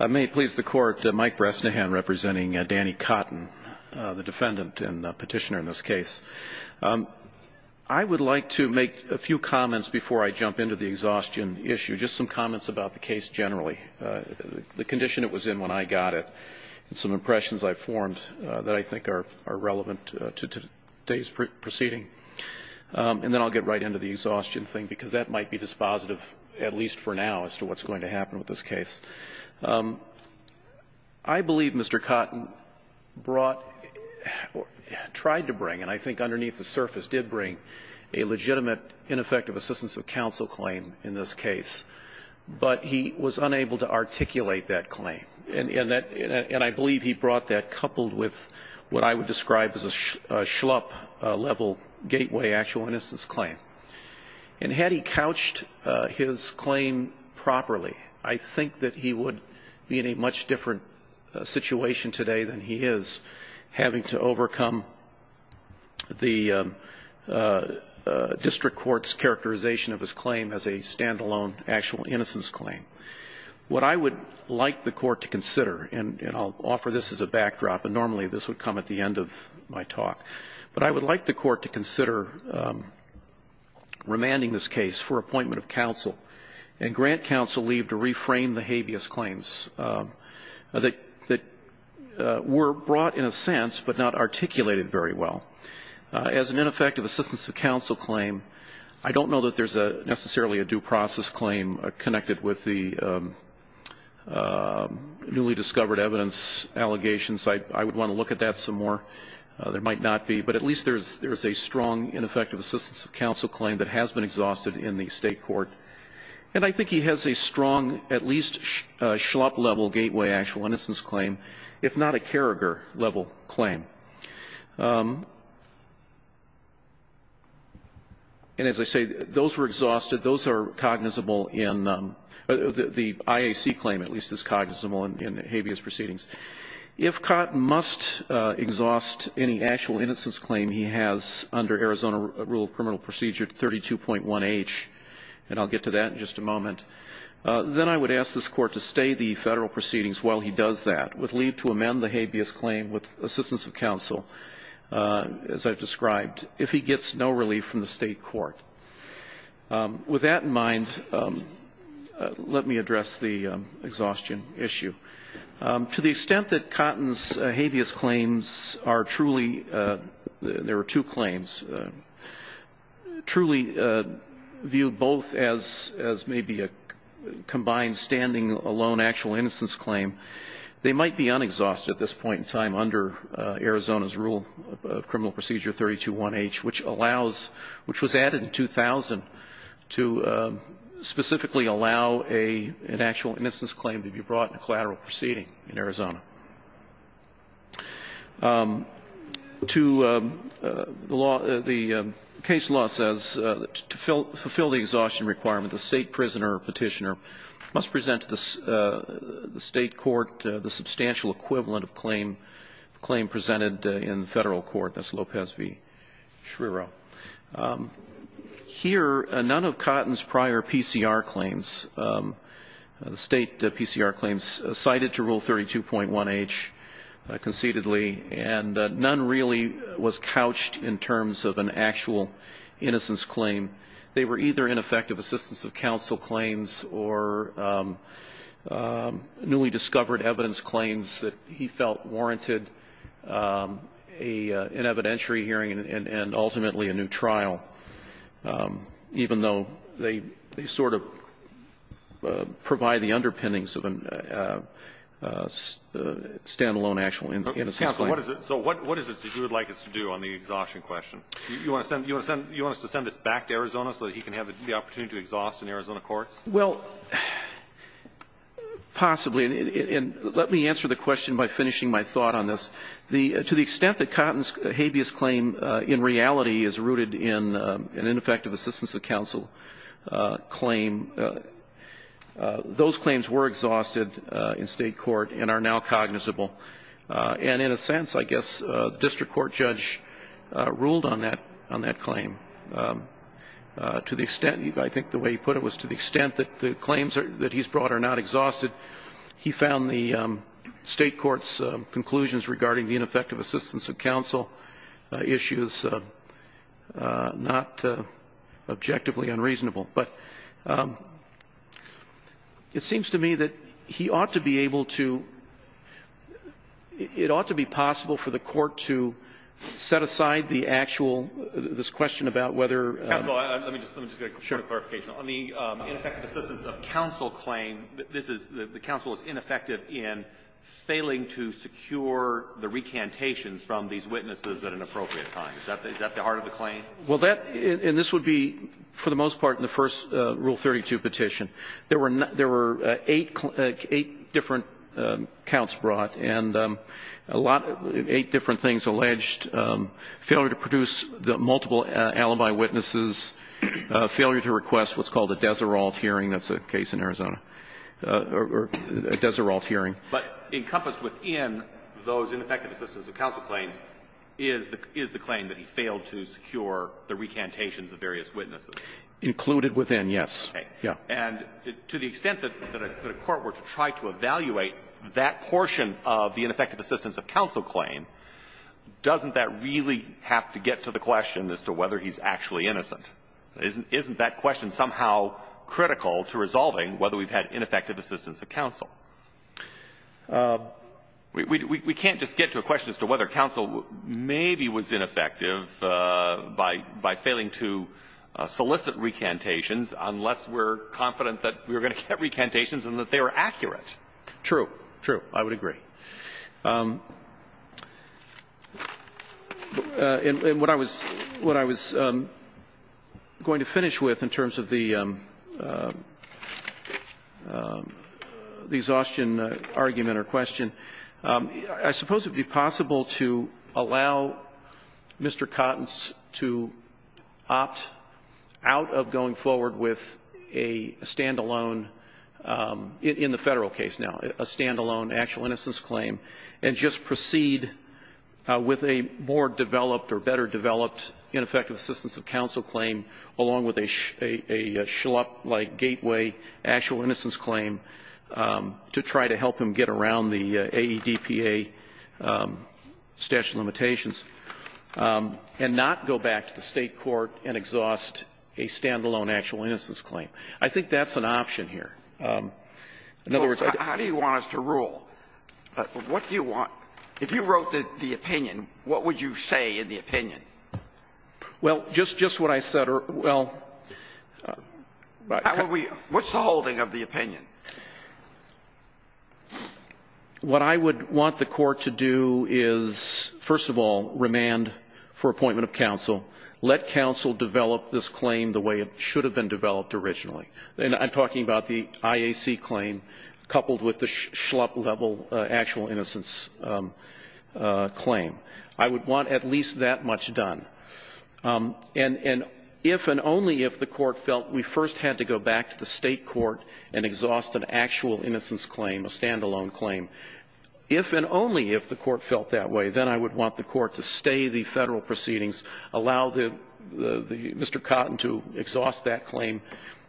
I may please the court, Mike Bresnahan representing Danny Cotton, the defendant and petitioner in this case. I would like to make a few comments before I jump into the exhaustion issue, just some comments about the case generally. The condition it was in when I got it and some impressions I've formed that I think are relevant to today's proceeding. And then I'll get right into the exhaustion thing, because that might be dispositive, at least for now, as to what's going to happen with this case. I believe Mr. Cotton brought or tried to bring, and I think underneath the surface did bring, a legitimate ineffective assistance of counsel claim in this case. But he was unable to articulate that claim. And I believe he brought that coupled with what I would describe as a schlup level gateway actual innocence claim. And had he couched his claim properly, I think that he would be in a much different situation today than he is, having to overcome the district court's characterization of his claim as a stand-alone actual innocence claim. What I would like the Court to consider, and I'll offer this as a backdrop, and normally this would come at the end of my talk. But I would like the Court to consider remanding this case for appointment of counsel and grant counsel leave to reframe the habeas claims that were brought in a sense but not articulated very well. As an ineffective assistance of counsel claim, I don't know that there's necessarily a due process claim connected with the newly discovered evidence allegations. I would want to look at that some more. There might not be. But at least there is a strong ineffective assistance of counsel claim that has been exhausted in the State court. And I think he has a strong, at least schlup level gateway actual innocence claim, if not a Karriger level claim. And as I say, those were exhausted. Those are cognizable in the IAC claim, at least as cognizable in habeas proceedings. If Cotton must exhaust any actual innocence claim he has under Arizona rule of criminal procedure 32.1h, and I'll get to that in just a moment, then I would ask this Court to stay the Federal proceedings while he does that, with leave to amend the habeas claim with assistance of counsel, as I've described, if he gets no relief from the State court. With that in mind, let me address the exhaustion issue. To the extent that Cotton's habeas claims are truly, there were two claims, truly viewed both as maybe a combined standing alone actual innocence claim, they might be unexhausted at this point in time under Arizona's rule of criminal procedure 32.1h, which allows, which was added in 2000, to specifically allow an actual innocence claim to be brought in a collateral proceeding in Arizona. To the law, the case law says to fulfill the exhaustion requirement, the State prisoner or petitioner must present this to the State court, the substantial equivalent of claim presented in Federal court. That's Lopez v. Schreiro. Here, none of Cotton's prior PCR claims, State PCR claims, cited to rule 32.1h concededly, and none really was couched in terms of an actual innocence claim. They were either ineffective assistance of counsel claims or newly discovered evidence claims that he felt warranted an evidentiary hearing and ultimately a new trial, even though they sort of provide the underpinnings of a stand-alone actual innocence claim. So what is it that you would like us to do on the exhaustion question? You want us to send this back to Arizona so that he can have the opportunity to exhaust in Arizona courts? Well, possibly. And let me answer the question by finishing my thought on this. To the extent that Cotton's habeas claim in reality is rooted in an ineffective assistance of counsel claim, those claims were exhausted in State court and are now cognizable. And in a sense, I guess the district court judge ruled on that claim. To the extent, I think the way he put it was to the extent that the claims that he's brought are not exhausted, he found the State court's conclusions regarding the ineffective assistance of counsel issues not objectively unreasonable. But it seems to me that he ought to be able to – it ought to be possible for the court to set aside the actual – this question about whether – Counsel, let me just – let me just get a clarification. On the ineffective assistance of counsel claim, this is – the counsel is ineffective in failing to secure the recantations from these witnesses at an appropriate time. Is that the heart of the claim? Well, that – and this would be, for the most part, in the first Rule 32 petition. There were – there were eight – eight different counts brought, and a lot – eight different things alleged, failure to produce the multiple alibi witnesses, failure to request what's called a Deserault hearing. That's a case in Arizona. Or a Deserault hearing. But encompassed within those ineffective assistance of counsel claims is the claim that he failed to secure the recantations of various witnesses. Included within, yes. Okay. Yeah. And to the extent that a court were to try to evaluate that portion of the ineffective assistance of counsel claim, doesn't that really have to get to the question as to whether he's actually innocent? Isn't – isn't that question somehow critical to resolving whether we've had ineffective assistance of counsel? We – we can't just get to a question as to whether counsel maybe was ineffective by – by failing to solicit recantations unless we're confident that we were going to get recantations and that they were accurate. True. True. I would agree. In – in what I was – what I was going to finish with in terms of the – these exhaustion argument or question, I suppose it would be possible to allow Mr. Cottens to opt out of going forward with a stand-alone, in the Federal case now, a stand-alone actual innocence claim, and just proceed with a more developed or better developed ineffective assistance of counsel claim, along with a – a schlup-like gateway actual innocence claim, to try to help him get around the AEDPA statute of limitations, and not go back to the State court and exhaust a stand-alone actual innocence claim. I think that's an option here. In other words, I think that's an option. How do you want us to rule? What do you want – if you wrote the opinion, what would you say in the opinion? Well, just – just what I said. Well – How would we – what's the holding of the opinion? What I would want the Court to do is, first of all, remand for appointment of counsel. Let counsel develop this claim the way it should have been developed originally. And I'm talking about the IAC claim coupled with the schlup-level actual innocence claim. I would want at least that much done. And – and if and only if the Court felt we first had to go back to the State court and exhaust an actual innocence claim, a stand-alone claim. If and only if the Court felt that way, then I would want the Court to stay the Federal proceedings, allow the – the – Mr. Cotton to exhaust that claim,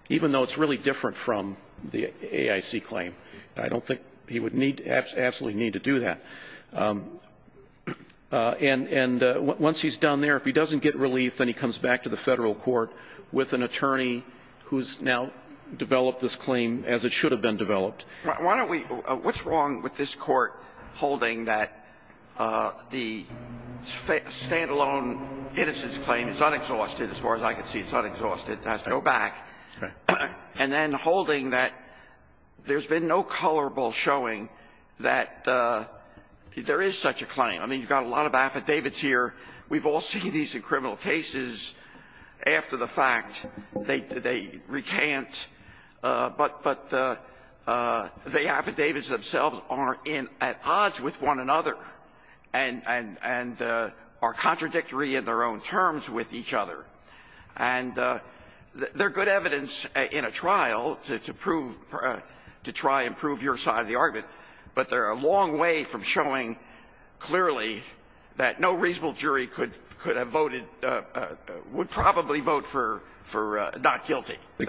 even though it's really different from the AIC claim. I don't think he would need – absolutely need to do that. And – and once he's done there, if he doesn't get relief, then he comes back to the Federal court with an attorney who's now developed this claim as it should have been developed. Why don't we – what's wrong with this Court holding that the stand-alone innocence claim is unexhausted, as far as I can see, it's unexhausted, it has to go back, and then holding that there's been no colorable showing that there is such a claim. I mean, you've got a lot of affidavits here. We've all seen these in criminal cases after the fact. They – they recant. But – but the affidavits themselves are in – at odds with one another and – and are contradictory in their own terms with each other. And they're good evidence in a trial to prove – to try and prove your side of the argument, but they're a long way from showing clearly that no reasonable jury could – could have voted – would probably vote for – for not guilty. The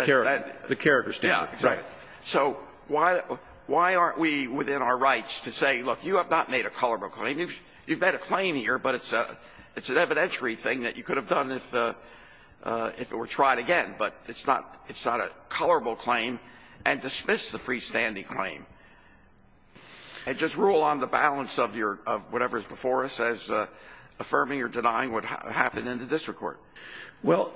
character standard. Yeah. Right. So why – why aren't we within our rights to say, look, you have not made a colorable claim. You've – you've made a claim here, but it's a – it's an evidentiary thing that you could have done if – if it were tried again. But it's not – it's not a colorable claim. And dismiss the freestanding claim. And just rule on the balance of your – of whatever is before us as affirming or denying what happened in the district court. Well,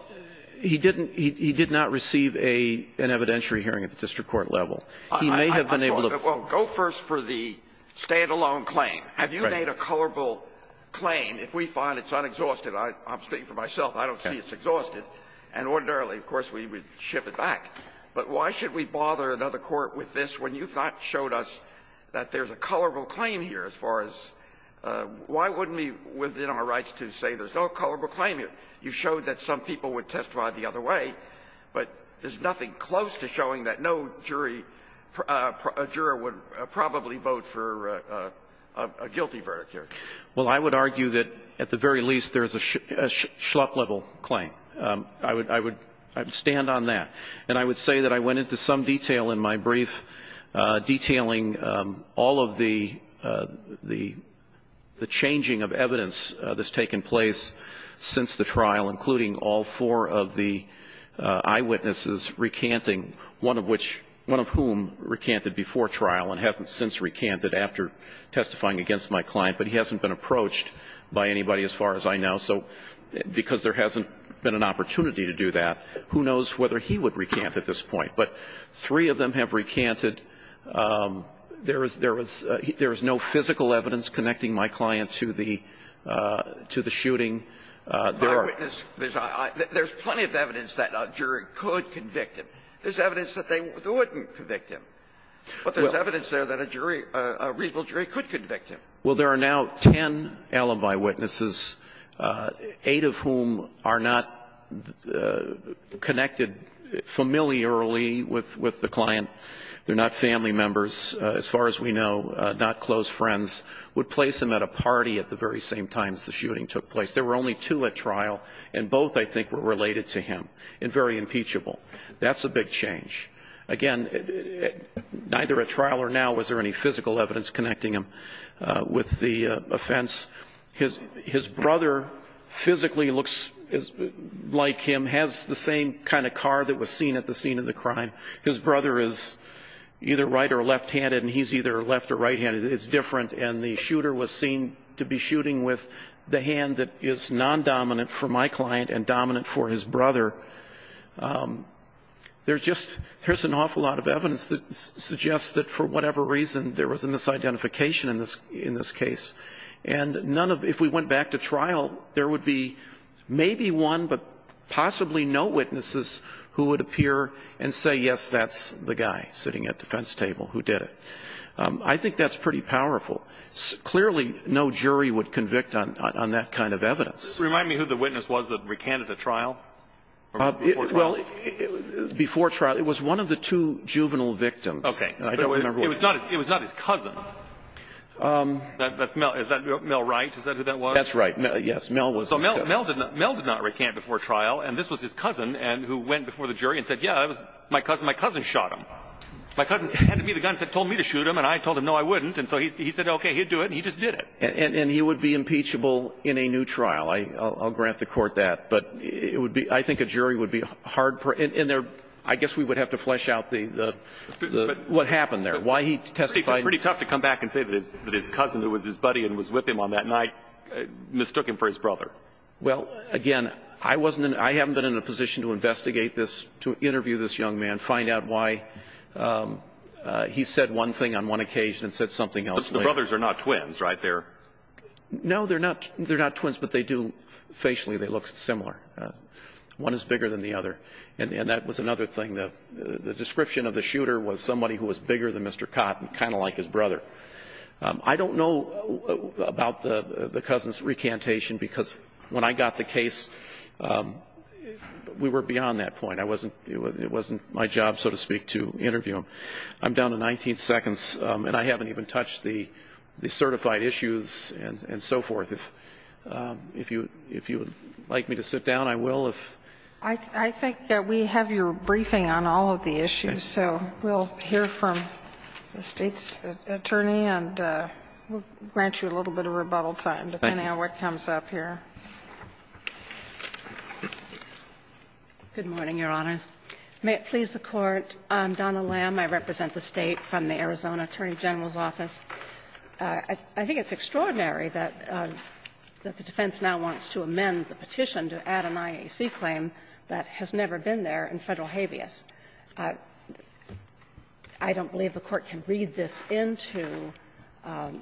he didn't – he did not receive a – an evidentiary hearing at the district court level. He may have been able to – Well, go first for the stand-alone claim. Right. He may have made a colorable claim. If we find it's unexhausted, I'm speaking for myself, I don't see it's exhausted. And ordinarily, of course, we would ship it back. But why should we bother another court with this when you've not showed us that there's a colorable claim here as far as – why wouldn't we, within our rights to say there's no colorable claim here? You showed that some people would testify the other way, but there's nothing close to showing that no jury – juror would probably vote for a – a guilty verdict here. Well, I would argue that, at the very least, there's a schlup-level claim. I would – I would stand on that. And I would say that I went into some detail in my brief detailing all of the – the changing of evidence that's taken place since the trial, including all four of the eyewitnesses recanting, one of which – one of whom recanted before trial and hasn't since recanted after testifying against my client. But he hasn't been approached by anybody as far as I know. So because there hasn't been an opportunity to do that, who knows whether he would recant at this point. But three of them have recanted. There is – there is – there is no physical evidence connecting my client to the – to the shooting. There are – The eyewitness – there's – there's plenty of evidence that a jury could convict him. There's evidence that they wouldn't convict him. Well – But there's evidence there that a jury – a reasonable jury could convict him. Well, there are now 10 alibi witnesses, eight of whom are not connected familiarly with – with the client. They're not family members, as far as we know, not close friends, would place him at a party at the very same times the shooting took place. There were only two at trial, and both, I think, were related to him and very impeachable. That's a big change. Again, neither at trial or now was there any physical evidence connecting him with the offense. His brother physically looks like him, has the same kind of car that was seen at the scene of the crime. His brother is either right- or left-handed, and he's either left- or right-handed. It's different. And the shooter was seen to be shooting with the hand that is non-dominant for my client and dominant for his brother. There's just – there's an awful lot of evidence that suggests that for whatever reason, there was a misidentification in this – in this case. And none of – if we went back to trial, there would be maybe one, but possibly no witnesses who would appear and say, yes, that's the guy sitting at the defense table who did it. I think that's pretty powerful. Clearly, no jury would convict on – on that kind of evidence. Remind me who the witness was that recanted the trial? Well, before trial, it was one of the two juvenile victims. Okay. And I don't remember what – It was not – it was not his cousin. That's Mel – is that Mel Wright? Is that who that was? That's right. Yes, Mel was his cousin. So Mel – Mel did not – Mel did not recant before trial. And this was his cousin who went before the jury and said, yeah, it was my cousin. My cousin shot him. My cousin handed me the gun and said, told me to shoot him. And I told him, no, I wouldn't. And so he said, okay, he'd do it. And he just did it. And he would be impeachable in a new trial. I'll grant the court that. But it would be – I think a jury would be hard – and there – I guess we would have to flesh out the – what happened there, why he testified. It's pretty tough to come back and say that his cousin, who was his buddy and was with him on that night, mistook him for his brother. Well, again, I wasn't – I haven't been in a position to investigate this, to interview this young man, find out why he said one thing on one occasion and said something else later. But the brothers are not twins, right? They're – No, they're not – they're not twins, but they do – facially, they look similar. One is bigger than the other. And that was another thing. The description of the shooter was somebody who was bigger than Mr. Cotton, kind of like his brother. I don't know about the cousin's recantation, because when I got the case, we were beyond that point. I wasn't – it wasn't my job, so to speak, to interview him. I'm down to 19 seconds, and I haven't even touched the certified issues and so forth. If you would like me to sit down, I will. I think that we have your briefing on all of the issues. Okay. We'll hear from the State's attorney, and we'll grant you a little bit of rebuttal time, depending on what comes up here. Good morning, Your Honors. May it please the Court. I'm Donna Lamb. I represent the State from the Arizona Attorney General's Office. I think it's extraordinary that the defense now wants to amend the petition to add an IAC claim that has never been there in Federal habeas. I don't believe the Court can read this into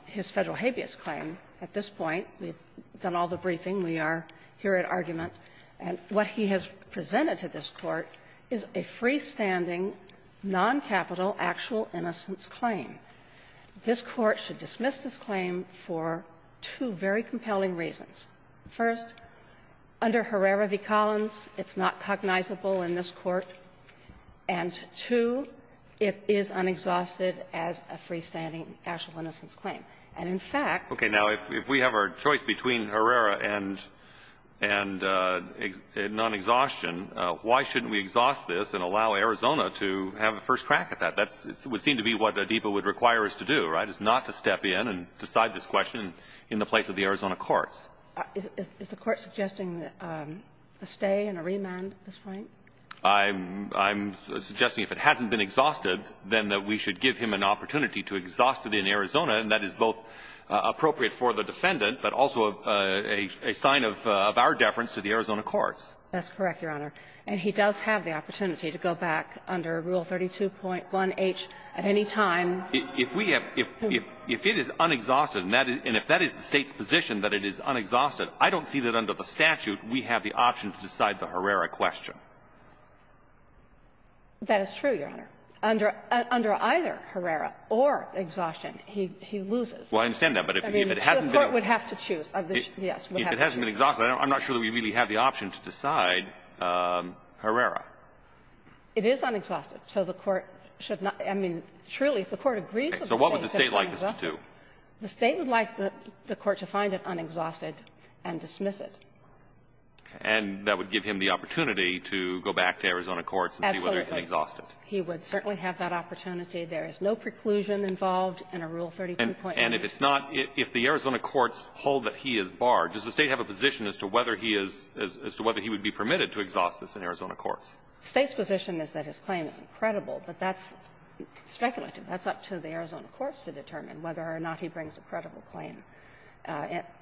his Federal habeas claim at this point. We've done all the briefing. We are here at argument. And what he has presented to this Court is a freestanding, noncapital, actual innocence claim. This Court should dismiss this claim for two very compelling reasons. First, under Herrera v. Collins, it's not cognizable in this Court. And, two, it is unexhausted as a freestanding actual innocence claim. And, in fact — Okay. Now, if we have our choice between Herrera and nonexhaustion, why shouldn't we exhaust this and allow Arizona to have a first crack at that? That would seem to be what Adeepa would require us to do, right, is not to step in and decide this question in the place of the Arizona courts. Is the Court suggesting a stay and a remand at this point? I'm suggesting if it hasn't been exhausted, then that we should give him an opportunity to exhaust it in Arizona, and that is both appropriate for the defendant, but also a sign of our deference to the Arizona courts. That's correct, Your Honor. And he does have the opportunity to go back under Rule 32.1H at any time. If we have — if it is unexhausted, and if that is the State's position that it is unexhausted, I don't see that under the statute we have the option to decide the Herrera question. That is true, Your Honor. Under either Herrera or exhaustion, he loses. Well, I understand that, but if it hasn't been — I mean, the Court would have to choose. Yes, would have to choose. If it hasn't been exhausted, I'm not sure we really have the option to decide Herrera. It is unexhausted. So the Court should not — I mean, truly, if the Court agrees with the State, it's unexhausted. So what would the State like us to do? The State would like the Court to find it unexhausted and dismiss it. And that would give him the opportunity to go back to Arizona courts and see whether it's unexhausted. Absolutely. He would certainly have that opportunity. There is no preclusion involved in a Rule 32.1H. And if it's not — if the Arizona courts hold that he is barred, does the State have a position as to whether he is — as to whether he would be permitted to exhaust this in Arizona courts? The State's position is that his claim is incredible. But that's speculative. That's up to the Arizona courts to determine whether or not he brings a credible claim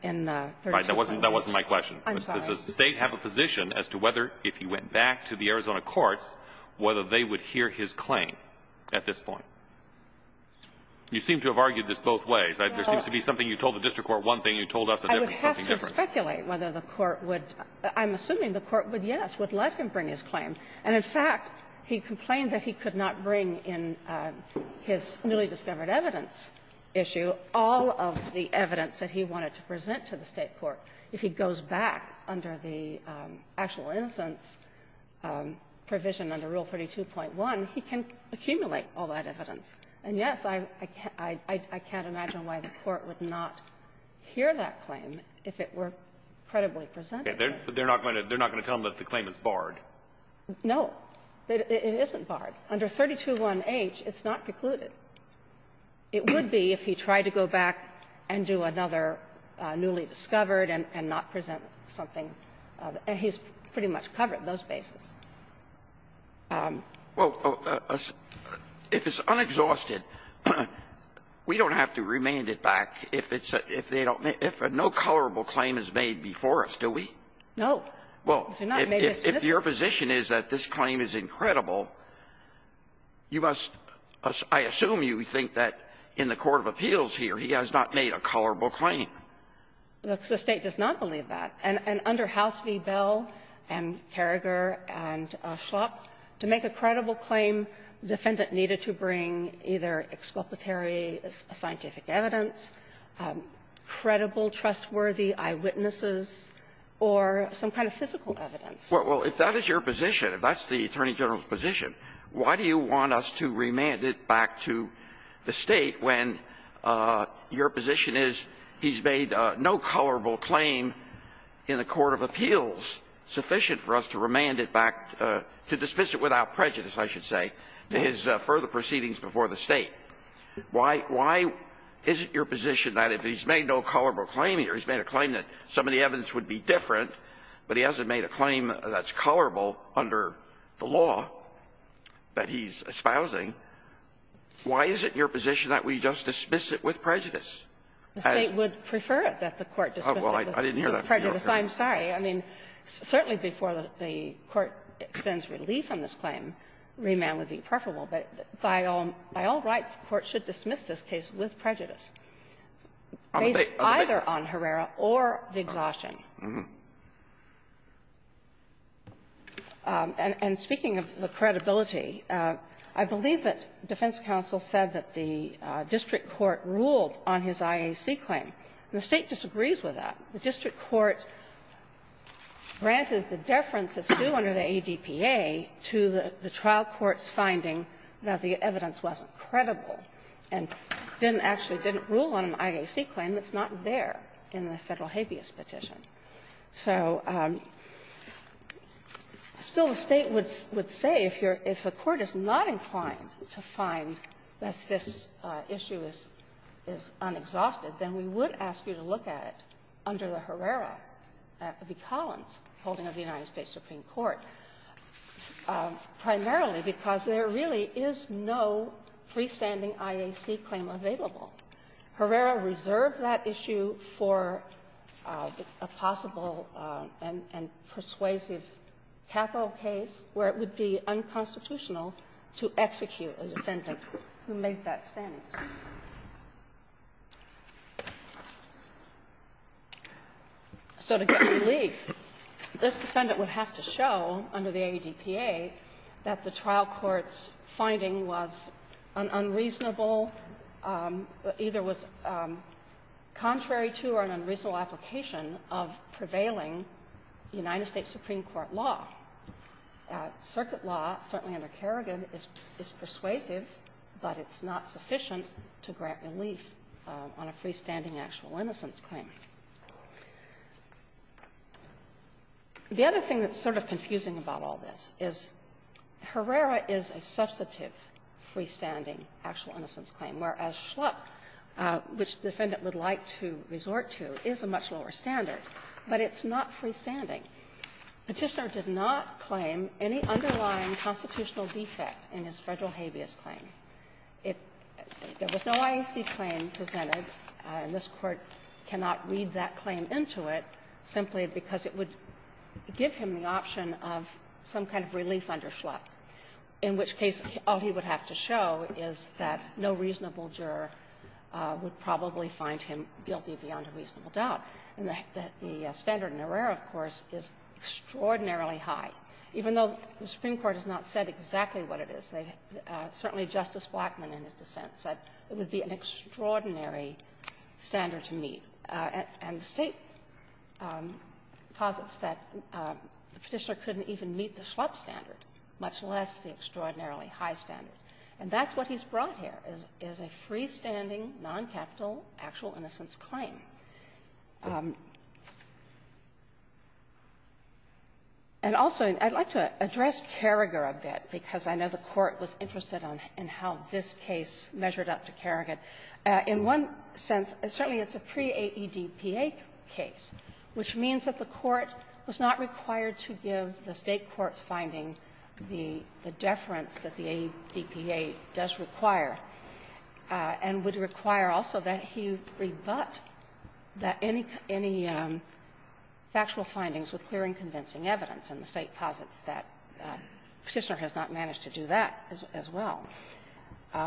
in the 32.1H. Right. That wasn't — that wasn't my question. I'm sorry. Does the State have a position as to whether, if he went back to the Arizona courts, whether they would hear his claim at this point? You seem to have argued this both ways. There seems to be something you told the district court one thing, you told us a different something different. I would have to speculate whether the Court would — I'm assuming the Court would say yes, would let him bring his claim. And, in fact, he complained that he could not bring in his newly-discovered evidence issue all of the evidence that he wanted to present to the State court. If he goes back under the actual innocence provision under Rule 32.1, he can accumulate all that evidence. And, yes, I can't — I can't imagine why the Court would not hear that claim if it were credibly presented. Okay. They're not going to tell him that the claim is barred? No. It isn't barred. Under 32.1H, it's not precluded. It would be if he tried to go back and do another newly-discovered and not present something. And he's pretty much covered those bases. Well, if it's unexhausted, we don't have to remand it back if it's — if they don't If no colorable claim is made before us, do we? No. Well, if your position is that this claim is incredible, you must — I assume you think that in the court of appeals here, he has not made a colorable claim. The State does not believe that. And under House v. Bell and Carragher and Schlapp, to make a credible claim, defendant either exculpatory scientific evidence, credible, trustworthy eyewitnesses, or some kind of physical evidence. Well, if that is your position, if that's the Attorney General's position, why do you want us to remand it back to the State when your position is he's made no colorable claim in the court of appeals sufficient for us to remand it back to dismiss it without prejudice, I should say, to his further proceedings before the State? Why — why is it your position that if he's made no colorable claim here, he's made a claim that some of the evidence would be different, but he hasn't made a claim that's colorable under the law that he's espousing, why is it your position that we just dismiss it with prejudice? The State would prefer it that the Court dismiss it with prejudice. I'm sorry. I mean, certainly before the Court extends relief on this claim, remand would be preferable. But by all rights, the Court should dismiss this case with prejudice, either on Herrera or the exhaustion. And speaking of the credibility, I believe that defense counsel said that the district court ruled on his IAC claim. The State disagrees with that. The district court granted the deference as due under the ADPA to the trial court's finding that the evidence wasn't credible and didn't actually — didn't rule on an IAC claim that's not there in the Federal habeas petition. So still the State would say if you're — if a court is not inclined to find that this issue is unexhausted, then we would ask you to look at it under the Herrera v. Collins holding of the United States Supreme Court, primarily because there really is no freestanding IAC claim available. Herrera reserved that issue for a possible and persuasive capital case where it would be unconstitutional to execute a defendant who made that claim. So to get relief, this defendant would have to show under the ADPA that the trial court's finding was an unreasonable — either was contrary to or an unreasonable application of prevailing United States Supreme Court law. Circuit law, certainly under Kerrigan, is persuasive, but it's not sufficient to grant relief on a freestanding actual innocence claim. The other thing that's sort of confusing about all this is Herrera is a substantive freestanding actual innocence claim, whereas Schlupp, which the defendant would like to resort to, is a much lower standard, but it's not constitutional defect in his Federal habeas claim. It — there was no IAC claim presented, and this Court cannot read that claim into it simply because it would give him the option of some kind of relief under Schlupp, in which case all he would have to show is that no reasonable juror would probably find him guilty beyond a reasonable doubt. And the standard in Herrera, of course, is extraordinarily high. Even though the Supreme Court has not said exactly what it is, certainly Justice Blackman in his dissent said it would be an extraordinary standard to meet. And the State posits that the Petitioner couldn't even meet the Schlupp standard, much less the extraordinarily high standard. And that's what he's brought here, is a freestanding, noncapital actual innocence claim. And also, I'd like to address Kerrigan's claim that the Supreme Court has to be a little bit more rigor a bit, because I know the Court was interested in how this case measured up to Kerrigan. In one sense, certainly it's a pre-AEDPA case, which means that the Court was not required to give the State court's finding the deference that the AEDPA does require, and would require also that he rebut that any — any factual findings with clear and convincing evidence. And the State posits that the Petitioner has not managed to do that as well.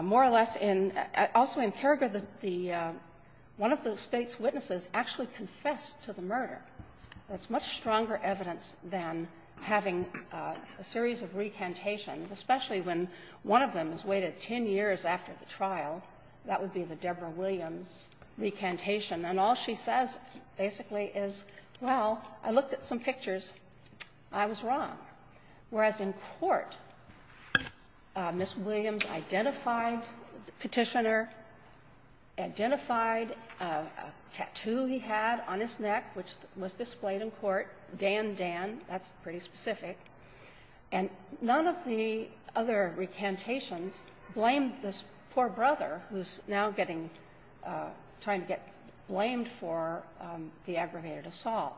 More or less, in — also in Kerrigan, the — one of the State's witnesses actually confessed to the murder. That's much stronger evidence than having a series of recantations, especially when one of them is weighted 10 years after the trial. That would be the Deborah Williams recantation. And all she says, basically, is, well, I looked at some pictures. I was wrong. Whereas in court, Ms. Williams identified the Petitioner, identified a tattoo he had on his neck, which was displayed in court, Dan Dan. That's pretty specific. And none of the other recantations blamed this poor brother, who's now getting — trying to get blamed for the aggravation of the aggravated assault.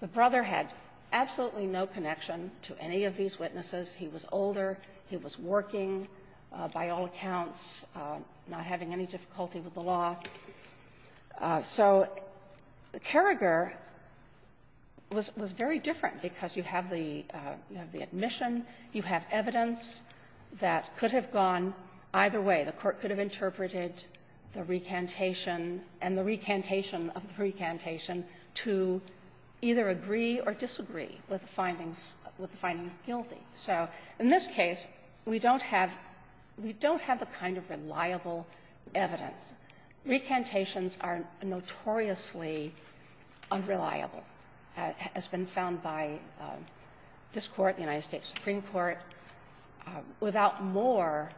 The brother had absolutely no connection to any of these witnesses. He was older. He was working, by all accounts, not having any difficulty with the law. So Kerrigan was — was very different because you have the — you have the admission, you have evidence that could have gone either way. The Court could have interpreted the recantation and the recantation of the recantation to be different to either agree or disagree with the findings — with the finding guilty. So in this case, we don't have — we don't have a kind of reliable evidence. Recantations are notoriously unreliable, as been found by this Court, the United States Supreme Court, without more,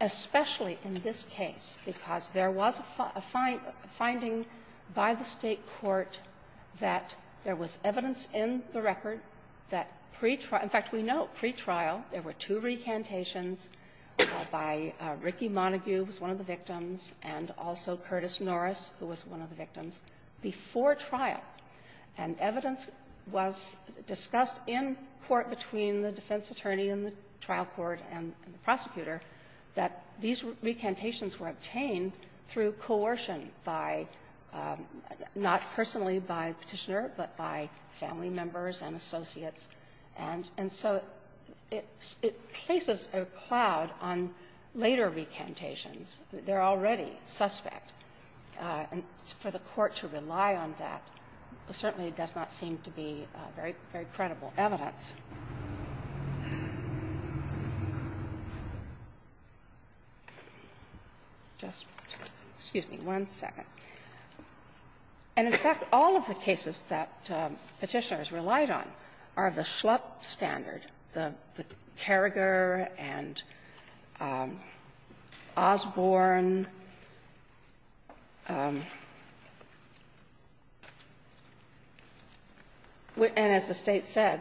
especially in this case, because there was a finding by the State court that there was evidence in the record that pre-trial — in fact, we know, pre-trial, there were two recantations by Ricky Montague, who was one of the victims, and also Curtis Norris, who was one of the victims, before trial. And evidence was discussed in court between the defense attorney in the trial court and the prosecutor that these recantations were obtained through coercion by — not personally by Petitioner, but by family members and associates. And so it — it places a cloud on later recantations. They're already suspect. And for the Court to rely on that certainly does not seem to be very — very credible evidence. Just — excuse me one second. And, in fact, all of the cases that Petitioners relied on are of the Schlupp standard, the Carriger and Osborne. And as the State said,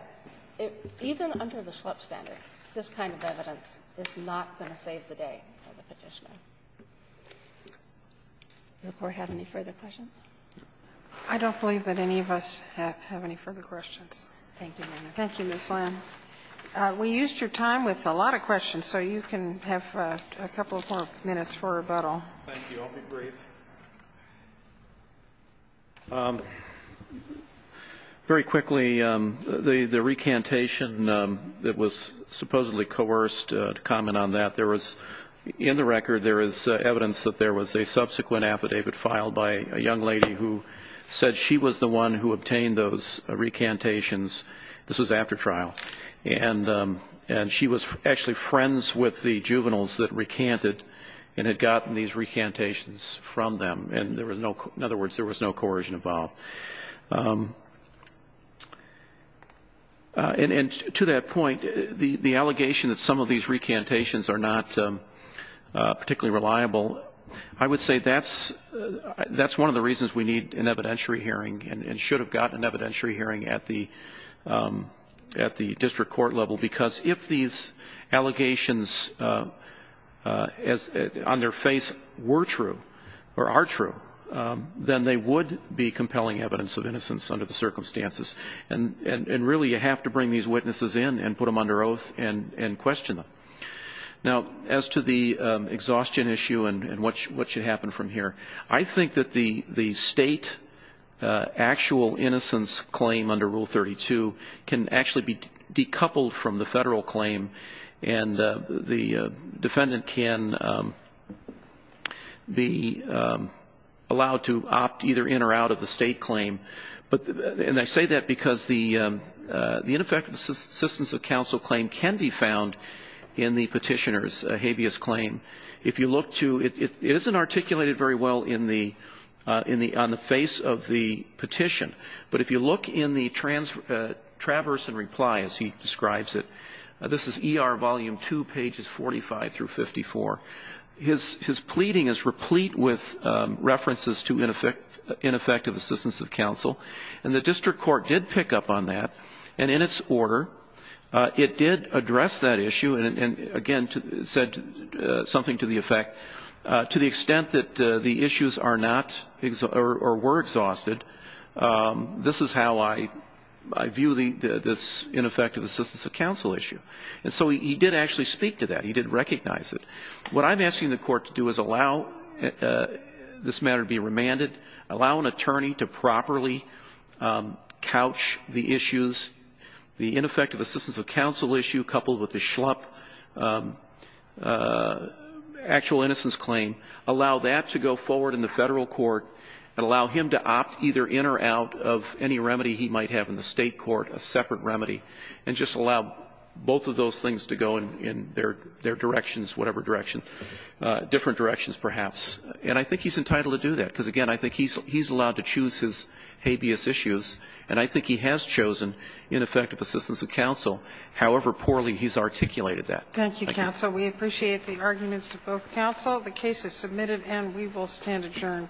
even under the Schlupp standard, this kind of evidence is not going to save the day for the Petitioner. Does the Court have any further questions? I don't believe that any of us have any further questions. Thank you, Ms. Lam. We used your time with a lot of questions, so you can have a couple of more minutes for rebuttal. Thank you. I'll be brief. Very quickly, the recantation that was supposedly coerced, to comment on that, there was — in the record, there is evidence that there was a subsequent affidavit filed by a young lady who said she was the one who obtained those recantations. This was after trial. And she was actually friends with the juveniles that recanted and had gotten these recantations from them. And there was no — in other words, there was no coercion involved. And to that point, the allegation that some of these recantations are not particularly reliable, I would say that's one of the reasons we need an evidentiary hearing and should have gotten an evidentiary hearing at the district court level, because if these allegations on their face were true, or are true, then they would be compelling evidence of innocence under the circumstances. And really, you have to bring these witnesses in and put them under oath and question them. Now, as to the exhaustion issue and what should happen from here, I think that the state actual innocence claim under Rule 32 can actually be decoupled from the federal claim. And the defendant can be allowed to opt either in or out of the state claim. And I say that because the ineffective assistance of counsel claim can be found in the petitioner's habeas claim. If you look to — it isn't articulated very well in the — on the face of the petition, but if you look in the Traverse and Reply, as he describes it, this is E.R. Volume 2, pages 45 through 54, his pleading is replete with references to ineffective assistance of counsel. And the district court did pick up on that. And in its order, it did address that issue and, again, said something to the effect, to the extent that the issues are not — or were exhausted, this is how I view this ineffective assistance of counsel issue. And so he did actually speak to that. He didn't recognize it. What I'm asking the Court to do is allow this matter to be remanded, allow an attorney to properly couch the issues, the ineffective assistance of counsel issue coupled with the slump actual innocence claim, allow that to go forward in the Federal court, and allow him to opt either in or out of any remedy he might have in the State court, a separate remedy, and just allow both of those things to go in their — their directions, whatever direction, different directions perhaps. And I think he's entitled to do that, because, again, I think he's — he's allowed to choose his habeas issues. And I think he has chosen ineffective assistance of counsel, however poorly he's articulated that. Thank you, counsel. We appreciate the arguments of both counsel. The case is submitted, and we will stand adjourned.